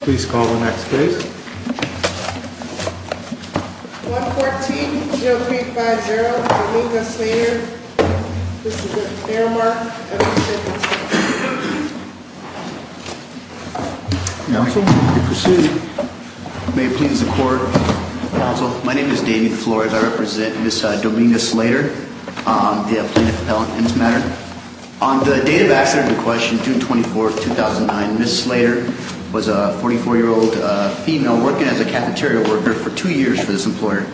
Please call the next case. 114-0350, Dominia Slater. This is a fair mark. Counsel, you may proceed. May it please the Court. Counsel, my name is Damien Flores. I represent Ms. Dominia Slater, plaintiff appellant in this matter. On the date of accident in question, June 24, 2009, Ms. Slater was a 44-year-old female working as a cafeteria worker for two years for this employer,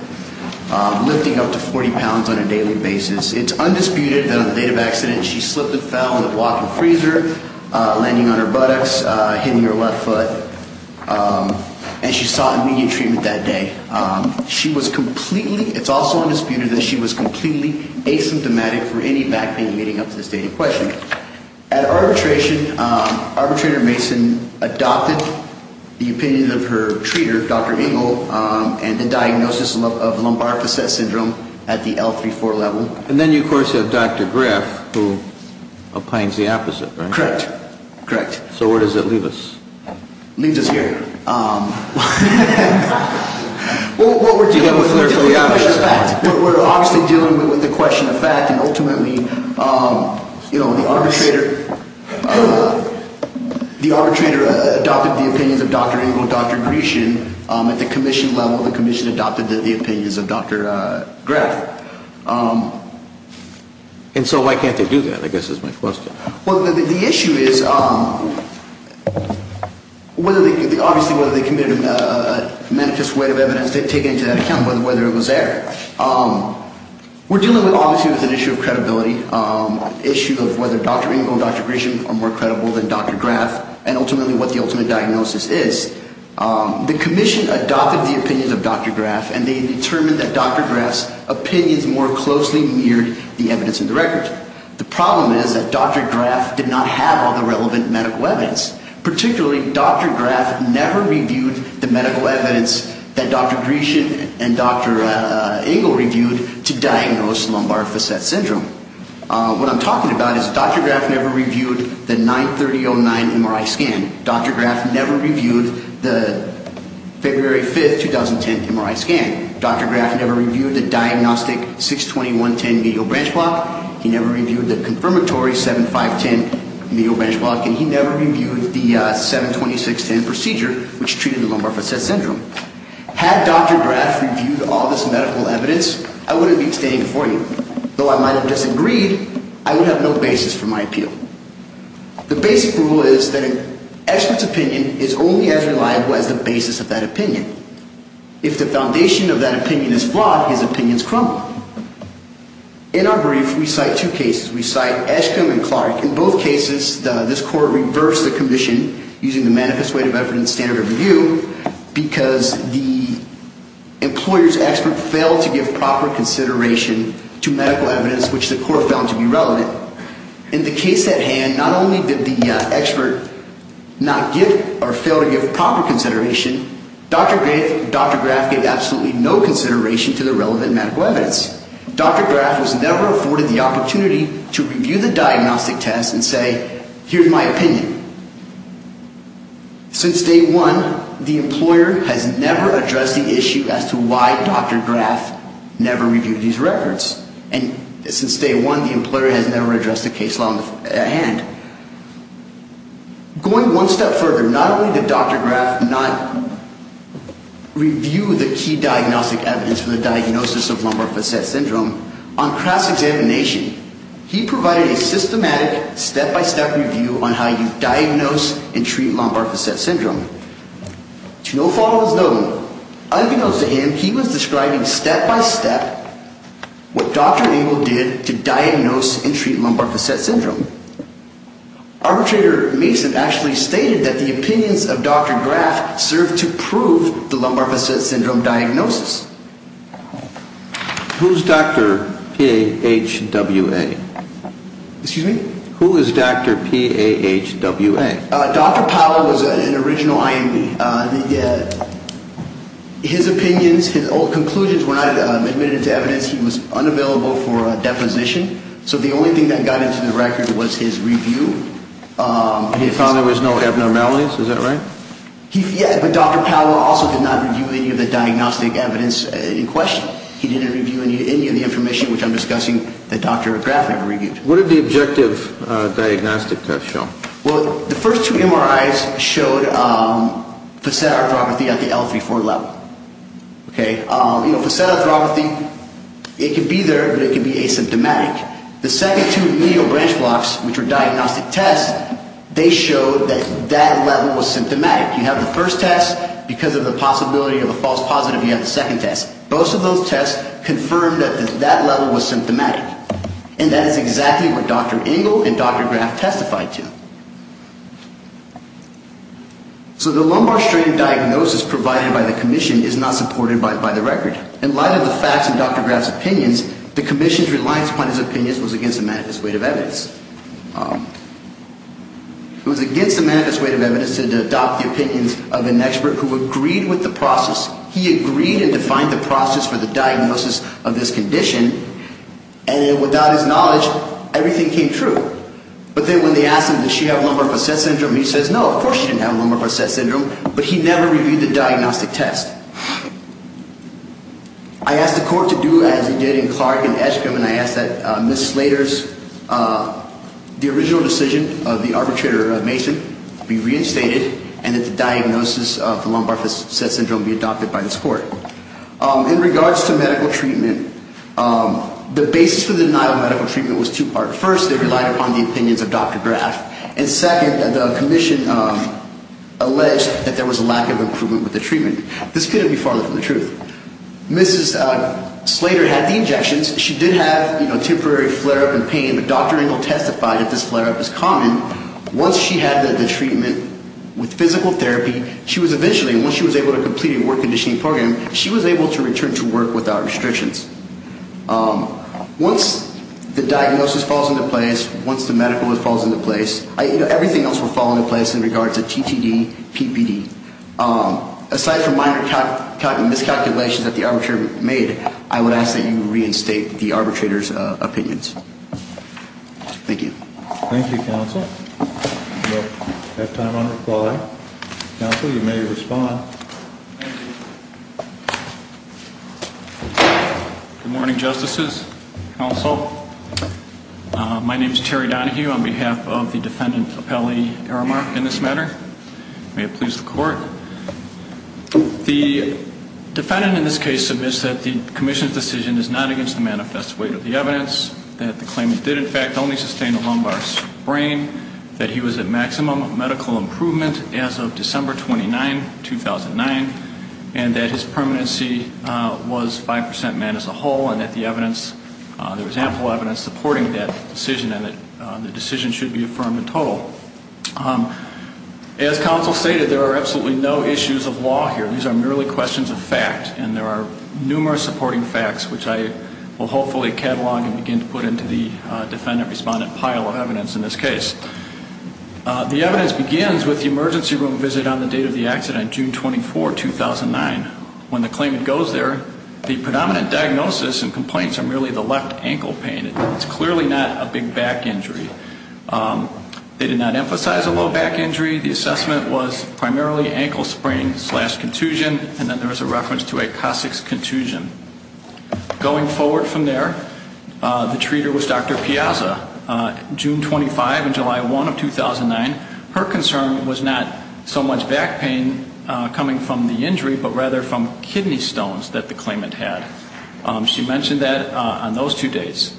lifting up to 40 pounds on a daily basis. It's undisputed that on the date of accident she slipped and fell on the block of the freezer, landing on her buttocks, hitting her left foot, and she sought immediate treatment that day. It's also undisputed that she was completely asymptomatic for any back pain leading up to this date in question. At arbitration, arbitrator Mason adopted the opinion of her treater, Dr. Ingle, and the diagnosis of lumbar facet syndrome at the L34 level. And then you, of course, have Dr. Griff, who opines the opposite, right? Correct. Correct. So where does that leave us? It leaves us here. Well, what we're dealing with is the question of fact. We're obviously dealing with the question of fact, and ultimately, you know, the arbitrator adopted the opinions of Dr. Ingle and Dr. Grishin at the commission level. The commission adopted the opinions of Dr. Griff. And so why can't they do that, I guess, is my question. Well, the issue is obviously whether they committed a manifest way of evidence taken into that account, whether it was there. We're dealing obviously with an issue of credibility, an issue of whether Dr. Ingle and Dr. Grishin are more credible than Dr. Griff, and ultimately what the ultimate diagnosis is. The commission adopted the opinions of Dr. Griff, and they determined that Dr. Griff's opinions more closely mirrored the evidence in the record. The problem is that Dr. Griff did not have all the relevant medical evidence. Particularly, Dr. Griff never reviewed the medical evidence that Dr. Grishin and Dr. Ingle reviewed to diagnose lumbar facet syndrome. What I'm talking about is Dr. Griff never reviewed the 93009 MRI scan. Dr. Griff never reviewed the February 5th, 2010 MRI scan. Dr. Griff never reviewed the diagnostic 62110 medial branch block. He never reviewed the confirmatory 7510 medial branch block, and he never reviewed the 72610 procedure, which treated the lumbar facet syndrome. Had Dr. Griff reviewed all this medical evidence, I wouldn't be standing before you. Though I might have disagreed, I would have no basis for my appeal. The basic rule is that an expert's opinion is only as reliable as the basis of that opinion. If the foundation of that opinion is flawed, his opinions crumble. In our brief, we cite two cases. We cite Eskam and Clark. In both cases, this court reversed the commission using the manifest weight of evidence standard of review because the employer's expert failed to give proper consideration to medical evidence, which the court found to be relevant. In the case at hand, not only did the expert not give or fail to give proper consideration, Dr. Griff gave absolutely no consideration to the relevant medical evidence. Dr. Griff was never afforded the opportunity to review the diagnostic test and say, here's my opinion. Since day one, the employer has never addressed the issue as to why Dr. Griff never reviewed these records. And since day one, the employer has never addressed the case at hand. Going one step further, not only did Dr. Griff not review the key diagnostic evidence for the diagnosis of lumbar facet syndrome, on cross-examination, he provided a systematic, step-by-step review on how you diagnose and treat lumbar facet syndrome. To no fault was known. Unbeknownst to him, he was describing step-by-step what Dr. Engel did to diagnose and treat lumbar facet syndrome. Arbitrator Mason actually stated that the opinions of Dr. Griff served to prove the lumbar facet syndrome diagnosis. Who's Dr. P-A-H-W-A? Excuse me? Who is Dr. P-A-H-W-A? Dr. Powell was an original IMB. His opinions, his old conclusions were not admitted to evidence. He was unavailable for deposition. So the only thing that got into the record was his review. He found there was no abnormalities, is that right? Yeah, but Dr. Powell also did not review any of the diagnostic evidence in question. He didn't review any of the information which I'm discussing that Dr. Griff had reviewed. What did the objective diagnostic test show? Well, the first two MRIs showed facet arthropathy at the L34 level. Okay? You know, facet arthropathy, it could be there, but it could be asymptomatic. The second two medial branch blocks, which were diagnostic tests, they showed that that level was symptomatic. You have the first test, because of the possibility of a false positive, you have the second test. Both of those tests confirmed that that level was symptomatic. And that is exactly what Dr. Engel and Dr. Griff testified to. So the lumbar strain diagnosis provided by the commission is not supported by the record. In light of the facts in Dr. Griff's opinions, the commission's reliance upon his opinions was against the manifest weight of evidence. It was against the manifest weight of evidence to adopt the opinions of an expert who agreed with the process. He agreed and defined the process for the diagnosis of this condition, and without his knowledge, everything came true. But then when they asked him, did she have lumbar facet syndrome, he says, no, of course she didn't have lumbar facet syndrome, but he never reviewed the diagnostic test. I asked the court to do as he did in Clark and Eskrim, and I asked that Ms. Slater's, the original decision of the arbitrator, Mason, be reinstated, and that the diagnosis of the lumbar facet syndrome be adopted by this court. In regards to medical treatment, the basis for the denial of medical treatment was two-part. One, the opinions of Dr. Griff, and second, the commission alleged that there was a lack of improvement with the treatment. This couldn't be farther from the truth. Mrs. Slater had the injections. She did have, you know, temporary flare-up and pain, but Dr. Engel testified that this flare-up is common. Once she had the treatment with physical therapy, she was eventually, once she was able to complete a work conditioning program, she was able to return to work without restrictions. Once the diagnosis falls into place, once the medical falls into place, everything else will fall into place in regards to TTD, PPD. Aside from minor miscalculations that the arbitrator made, I would ask that you reinstate the arbitrator's opinions. Thank you. Thank you, counsel. We'll have time on reply. Counsel, you may respond. Thank you. Good morning, Justices, counsel. My name is Terry Donohue on behalf of the defendant, Apelli Aramark, in this matter. May it please the court. The defendant in this case submits that the commission's decision is not against the manifest weight of the evidence, that the claimant did, in fact, only sustain a lumbar sprain, that he was at maximum medical improvement as of December 29, 2009, and that his permanency was 5% men as a whole and that the evidence, there was ample evidence supporting that decision and that the decision should be affirmed in total. As counsel stated, there are absolutely no issues of law here. These are merely questions of fact, and there are numerous supporting facts, which I will hopefully catalog and begin to put into the defendant-respondent pile of evidence in this case. The evidence begins with the emergency room visit on the date of the accident, June 24, 2009. When the claimant goes there, the predominant diagnosis and complaints are merely the left ankle pain. It's clearly not a big back injury. They did not emphasize a low back injury. The assessment was primarily ankle sprain slash contusion, and then there was a reference to a Cossack's contusion. Going forward from there, the treater was Dr. Piazza, June 25 and July 1 of 2009. Her concern was not so much back pain coming from the injury, but rather from kidney stones that the claimant had. She mentioned that on those two dates.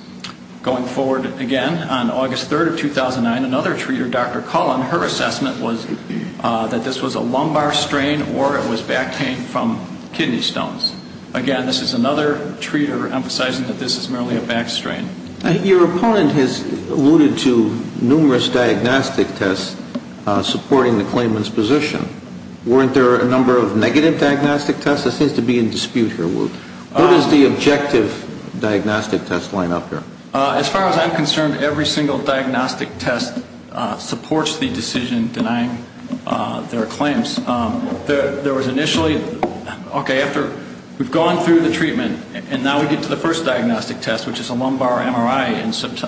Going forward again, on August 3rd of 2009, another treater, Dr. Cullen, her assessment was that this was a lumbar strain or it was back pain from kidney stones. Again, this is another treater emphasizing that this is merely a back strain. Your opponent has alluded to numerous diagnostic tests supporting the claimant's position. Weren't there a number of negative diagnostic tests? There seems to be in dispute here, Wu. Where does the objective diagnostic test line up here? As far as I'm concerned, every single diagnostic test supports the decision denying their claims. There was initially, okay, after we've gone through the treatment and now we get to the first diagnostic test, which is a lumbar MRI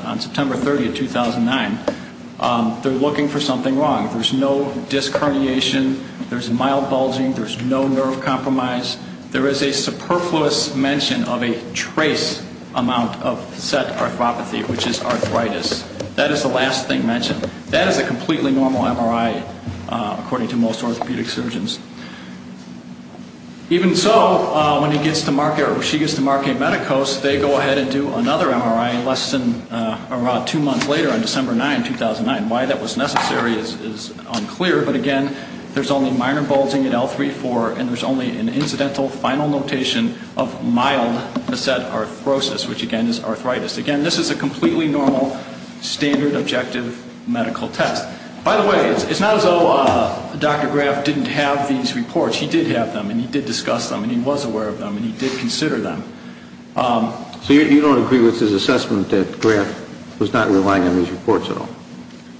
on September 30, 2009, they're looking for something wrong. There's no disc herniation. There's mild bulging. There's no nerve compromise. There is a superfluous mention of a trace amount of set arthropathy, which is arthritis. That is the last thing mentioned. That is a completely normal MRI, according to most orthopedic surgeons. Even so, when he gets to Markey or she gets to Markey Medicos, they go ahead and do another MRI less than around two months later on December 9, 2009. Why that was necessary is unclear, but, again, there's only minor bulging at L3-4 and there's only an incidental final notation of mild set arthrosis, which, again, is arthritis. Again, this is a completely normal standard objective medical test. By the way, it's not as though Dr. Graff didn't have these reports. He did have them and he did discuss them and he was aware of them and he did consider them. So you don't agree with his assessment that Graff was not relying on these reports at all?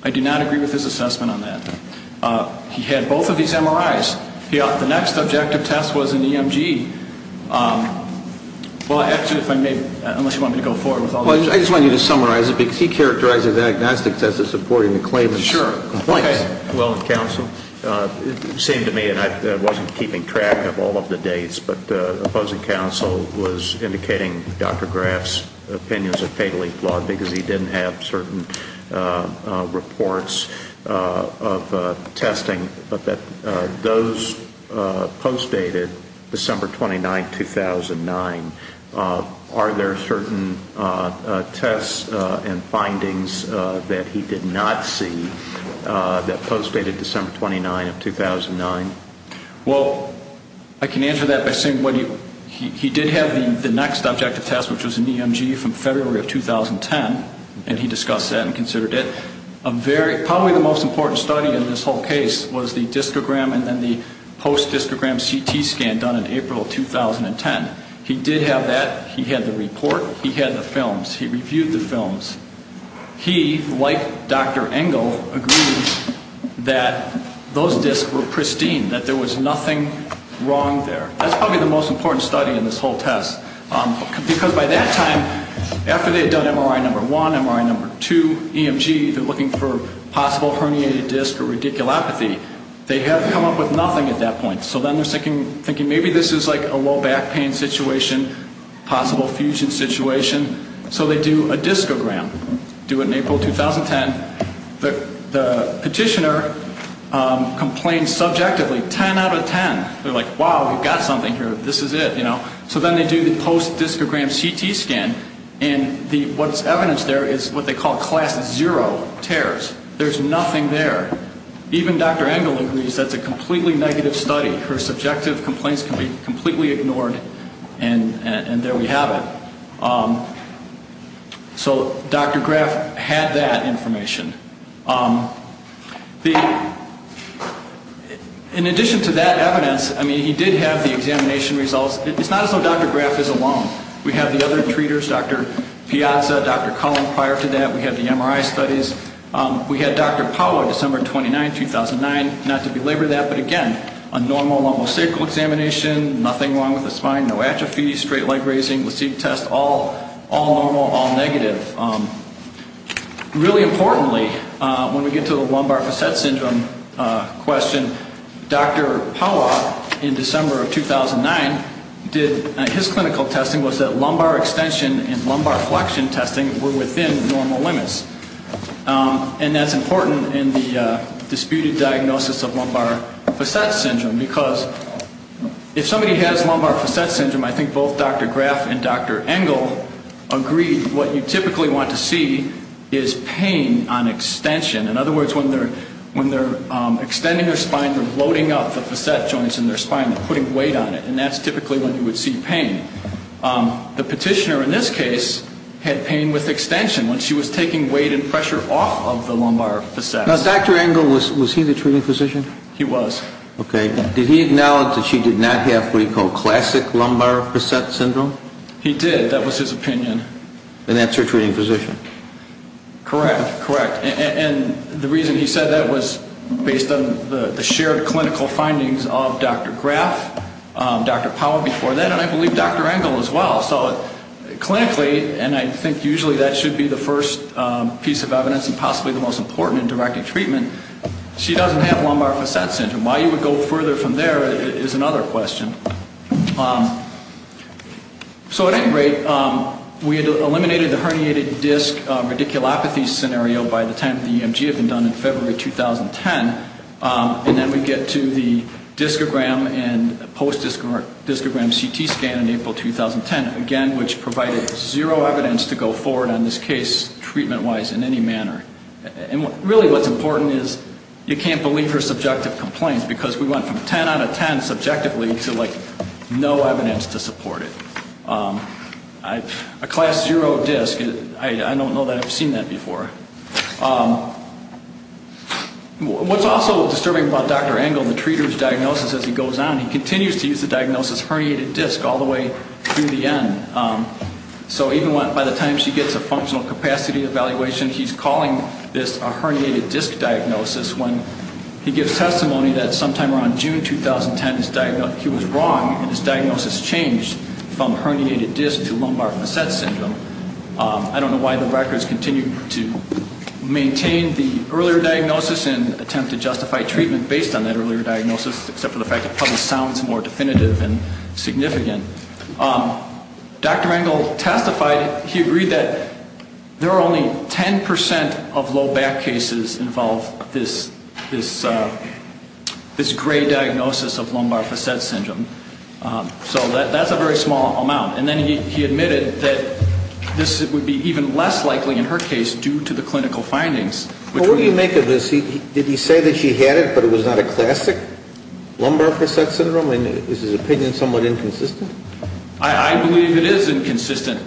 I do not agree with his assessment on that. He had both of these MRIs. The next objective test was an EMG. Well, actually, if I may, unless you want me to go forward with all this. I just want you to summarize it because he characterized the diagnostic test as supporting the claimant's complaints. Sure. Well, counsel, it seemed to me, and I wasn't keeping track of all of the dates, but opposing counsel was indicating Dr. Graff's opinions are fatally flawed because he didn't have certain reports of testing. But those postdated December 29, 2009, are there certain tests and findings that he did not see that postdated December 29 of 2009? Well, I can answer that by saying he did have the next objective test, which was an EMG from February of 2010, and he discussed that and considered it. Probably the most important study in this whole case was the discogram and then the post-discogram CT scan done in April of 2010. He did have that. He had the report. He had the films. He reviewed the films. He, like Dr. Engel, agreed that those discs were pristine, that there was nothing wrong there. That's probably the most important study in this whole test because by that time, after they had done MRI number one, MRI number two, EMG, they're looking for possible herniated disc or radiculopathy. They had come up with nothing at that point, so then they're thinking maybe this is like a low back pain situation, possible fusion situation, so they do a discogram. They do it in April of 2010. The petitioner complained subjectively 10 out of 10. They're like, wow, we've got something here. This is it. So then they do the post-discogram CT scan, and what's evidenced there is what they call class zero tears. There's nothing there. Even Dr. Engel agrees that's a completely negative study. Her subjective complaints can be completely ignored, and there we have it. So Dr. Graf had that information. In addition to that evidence, I mean, he did have the examination results. It's not as though Dr. Graf is alone. We have the other treaters, Dr. Piazza, Dr. Cullen. Prior to that, we had the MRI studies. We had Dr. Paolo December 29, 2009. Not to belabor that, but again, a normal lumosacral examination, nothing wrong with the spine, no atrophy, straight leg raising, LASIK test, all normal, all negative. Really importantly, when we get to the lumbar facet syndrome question, Dr. Paolo in December of 2009, his clinical testing was that lumbar extension and lumbar flexion testing were within normal limits, and that's important in the disputed diagnosis of lumbar facet syndrome because if somebody has lumbar facet syndrome, I think both Dr. Graf and Dr. Engel agree, what you typically want to see is pain on extension. In other words, when they're extending their spine, they're loading up the facet joints in their spine and putting weight on it, and that's typically when you would see pain. The petitioner in this case had pain with extension when she was taking weight and pressure off of the lumbar facet. Now, Dr. Engel, was he the treating physician? He was. Okay. Did he acknowledge that she did not have what he called classic lumbar facet syndrome? He did. That was his opinion. And that's her treating physician? Correct. Correct. And the reason he said that was based on the shared clinical findings of Dr. Graf, Dr. Paolo before that, and I believe Dr. Engel as well. So clinically, and I think usually that should be the first piece of evidence and possibly the most important in directing treatment, she doesn't have lumbar facet syndrome. Why you would go further from there is another question. So at any rate, we eliminated the herniated disc radiculopathy scenario by the time the EMG had been done in February 2010, and then we get to the discogram and post-discogram CT scan in April 2010, again, which provided zero evidence to go forward on this case treatment-wise in any manner. And really what's important is you can't believe her subjective complaints because we went from 10 out of 10 subjectively to, like, no evidence to support it. A class zero disc, I don't know that I've seen that before. What's also disturbing about Dr. Engel, the treater's diagnosis as he goes on, he continues to use the diagnosis herniated disc all the way through the end. So even by the time she gets a functional capacity evaluation, he's calling this a herniated disc diagnosis when he gives testimony that sometime around June 2010, he was wrong and his diagnosis changed from herniated disc to lumbar facet syndrome. I don't know why the records continue to maintain the earlier diagnosis and attempt to justify treatment based on that earlier diagnosis, except for the fact it probably sounds more definitive and significant. Dr. Engel testified. He agreed that there are only 10 percent of low back cases involve this gray diagnosis of lumbar facet syndrome. So that's a very small amount. And then he admitted that this would be even less likely in her case due to the clinical findings. Well, what do you make of this? Did he say that she had it but it was not a classic lumbar facet syndrome? Is his opinion somewhat inconsistent? I believe it is inconsistent.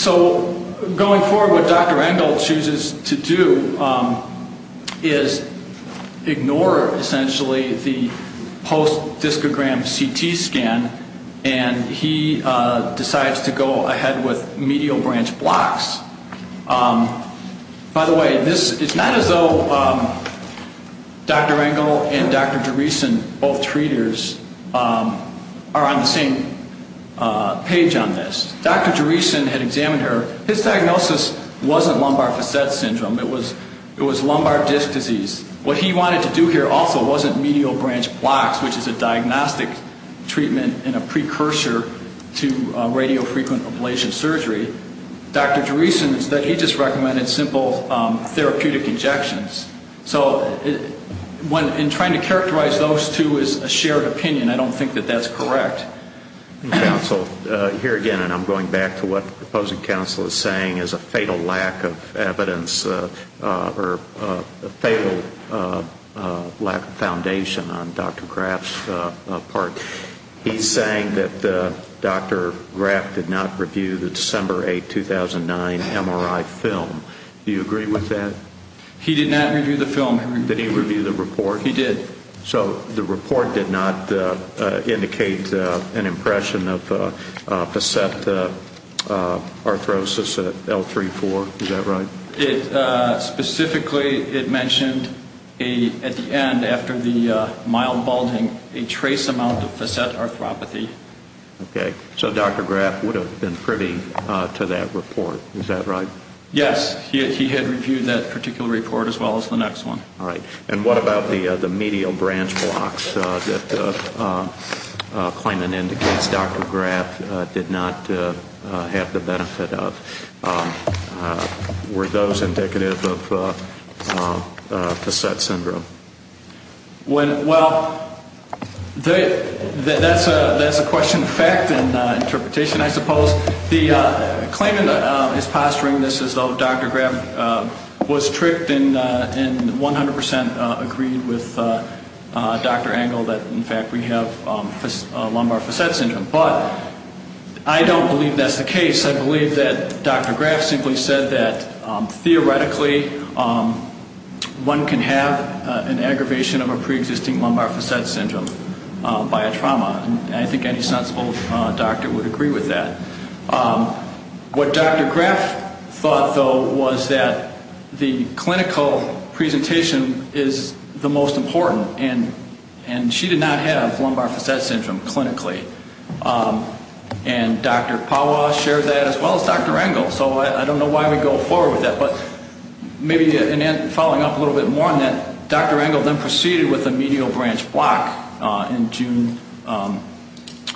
So going forward, what Dr. Engel chooses to do is ignore essentially the post-discogram CT scan, and he decides to go ahead with medial branch blocks. By the way, it's not as though Dr. Engel and Dr. Jerison, both treaters, are on the same page on this. Dr. Jerison had examined her. His diagnosis wasn't lumbar facet syndrome. It was lumbar disc disease. What he wanted to do here also wasn't medial branch blocks, which is a diagnostic treatment and a precursor to radiofrequent ablation surgery. Dr. Jerison, instead, he just recommended simple therapeutic injections. So in trying to characterize those two as a shared opinion, I don't think that that's correct. Counsel, here again, and I'm going back to what the proposing counsel is saying, is a fatal lack of evidence or a fatal lack of foundation on Dr. Graf's part. He's saying that Dr. Graf did not review the December 8, 2009, MRI film. Do you agree with that? He did not review the film. Did he review the report? He did. So the report did not indicate an impression of facet arthrosis at L3-4. Is that right? Specifically, it mentioned at the end, after the mild balding, a trace amount of facet arthropathy. Okay. So Dr. Graf would have been privy to that report. Is that right? Yes. He had reviewed that particular report as well as the next one. All right. And what about the medial branch blocks that claimant indicates Dr. Graf did not have the benefit of? Were those indicative of facet syndrome? Well, that's a question of fact and interpretation, I suppose. The claimant is posturing this as though Dr. Graf was tricked and 100% agreed with Dr. Engel that, in fact, we have lumbar facet syndrome. But I don't believe that's the case. I believe that Dr. Graf simply said that, theoretically, one can have an aggravation of a preexisting lumbar facet syndrome by a trauma, and I think any sensible doctor would agree with that. What Dr. Graf thought, though, was that the clinical presentation is the most important, and she did not have lumbar facet syndrome clinically. And Dr. Pawa shared that as well as Dr. Engel, so I don't know why we go forward with that. But maybe following up a little bit more on that, Dr. Engel then proceeded with a medial branch block in June of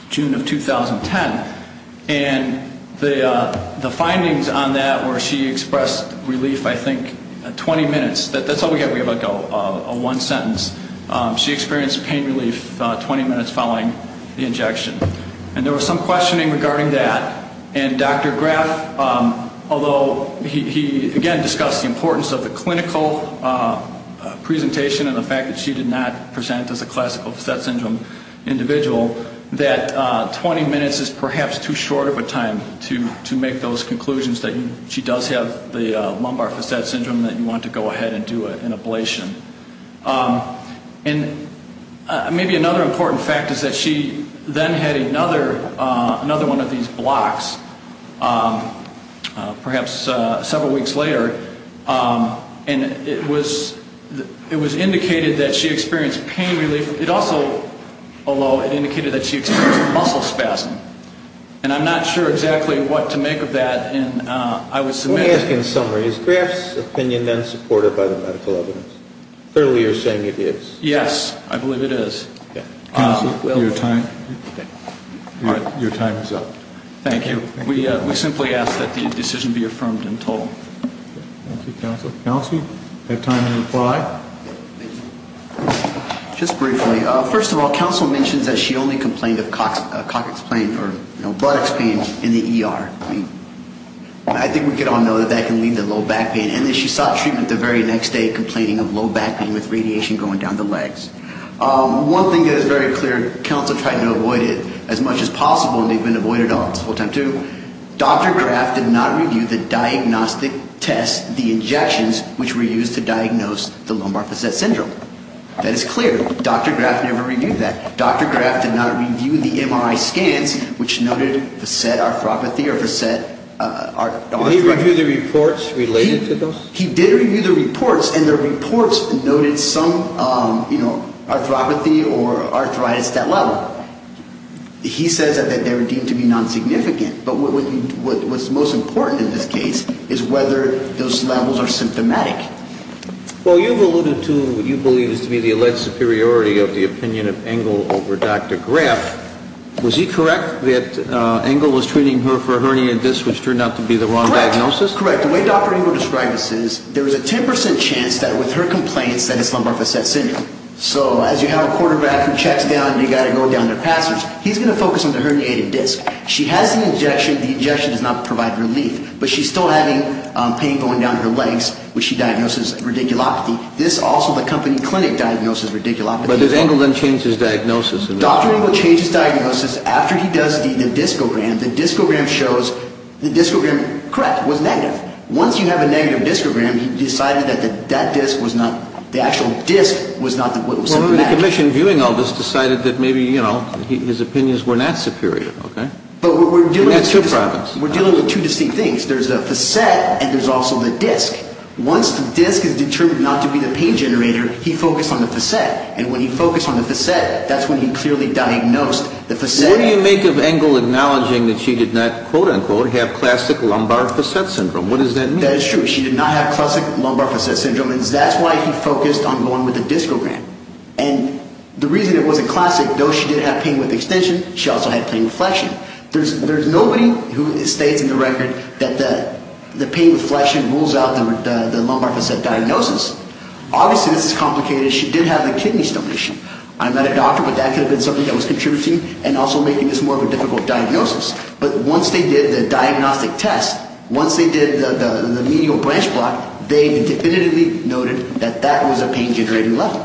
2010, and the findings on that were she expressed relief, I think, 20 minutes. That's all we have. We have like a one sentence. She experienced pain relief 20 minutes following the injection. And there was some questioning regarding that. And Dr. Graf, although he, again, discussed the importance of the clinical presentation and the fact that she did not present as a classical facet syndrome individual, that 20 minutes is perhaps too short of a time to make those conclusions, that she does have the lumbar facet syndrome that you want to go ahead and do an ablation. And maybe another important fact is that she then had another one of these blocks, perhaps several weeks later, and it was indicated that she experienced pain relief. It also, although it indicated that she experienced muscle spasm. And I'm not sure exactly what to make of that. Let me ask in summary, is Graf's opinion then supported by the medical evidence? Clearly you're saying it is. Yes, I believe it is. Counsel, your time is up. Thank you. We simply ask that the decision be affirmed and told. Thank you, counsel. Counsel, you have time to reply. Just briefly. First of all, counsel mentions that she only complained of coccyx pain or buttocks pain in the ER. I think we can all know that that can lead to low back pain. And that she sought treatment the very next day, complaining of low back pain with radiation going down the legs. One thing that is very clear, counsel tried to avoid it as much as possible and they've been avoided all this full time too. Dr. Graf did not review the diagnostic tests, the injections, which were used to diagnose the lumbar facet syndrome. That is clear. Dr. Graf never reviewed that. Dr. Graf did not review the MRI scans, which noted facet arthropathy or facet arthritis. Did he review the reports related to those? He did review the reports, and the reports noted some, you know, arthropathy or arthritis at that level. He says that they were deemed to be non-significant. But what's most important in this case is whether those levels are symptomatic. Well, you've alluded to what you believe is to be the alleged superiority of the opinion of Engle over Dr. Graf. Was he correct that Engle was treating her for a herniated disc, which turned out to be the wrong diagnosis? Correct. The way Dr. Engle described this is there is a 10% chance that with her complaints that it's lumbar facet syndrome. So as you have a quarterback who checks down and you've got to go down their passage, he's going to focus on the herniated disc. She has the injection. The injection does not provide relief. But she's still having pain going down her legs, which she diagnoses as radiculopathy. This also, the company clinic diagnoses radiculopathy. But did Engle then change his diagnosis? Dr. Engle changed his diagnosis after he does the discogram. The discogram shows the discogram, correct, was negative. Once you have a negative discogram, he decided that that disc was not, the actual disc was symptomatic. Well, the commission viewing all this decided that maybe, you know, his opinions were not superior, okay? But we're dealing with two distinct things. There's the facet and there's also the disc. Once the disc is determined not to be the pain generator, he focused on the facet. And when he focused on the facet, that's when he clearly diagnosed the facet. What do you make of Engle acknowledging that she did not, quote-unquote, have classic lumbar facet syndrome? What does that mean? That is true. She did not have classic lumbar facet syndrome, and that's why he focused on going with the discogram. And the reason it was a classic, though she did have pain with extension, she also had pain with flexion. There's nobody who states in the record that the pain with flexion rules out the lumbar facet diagnosis. Obviously, this is complicated. She did have a kidney stone issue. I'm not a doctor, but that could have been something that was contributing and also making this more of a difficult diagnosis. But once they did the diagnostic test, once they did the medial branch block, they definitively noted that that was a pain-generating level.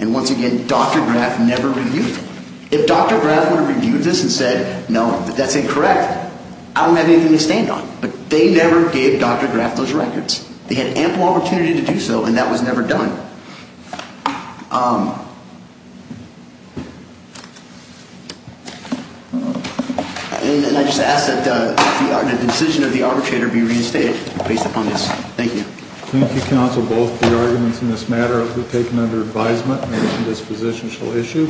And once again, Dr. Graf never reviewed it. If Dr. Graf would have reviewed this and said, no, that's incorrect, I don't have anything to stand on. But they never gave Dr. Graf those records. They had ample opportunity to do so, and that was never done. And I just ask that the decision of the arbitrator be reinstated based upon this. Thank you. Thank you, counsel. Both the arguments in this matter have been taken under advisement, and this position shall issue.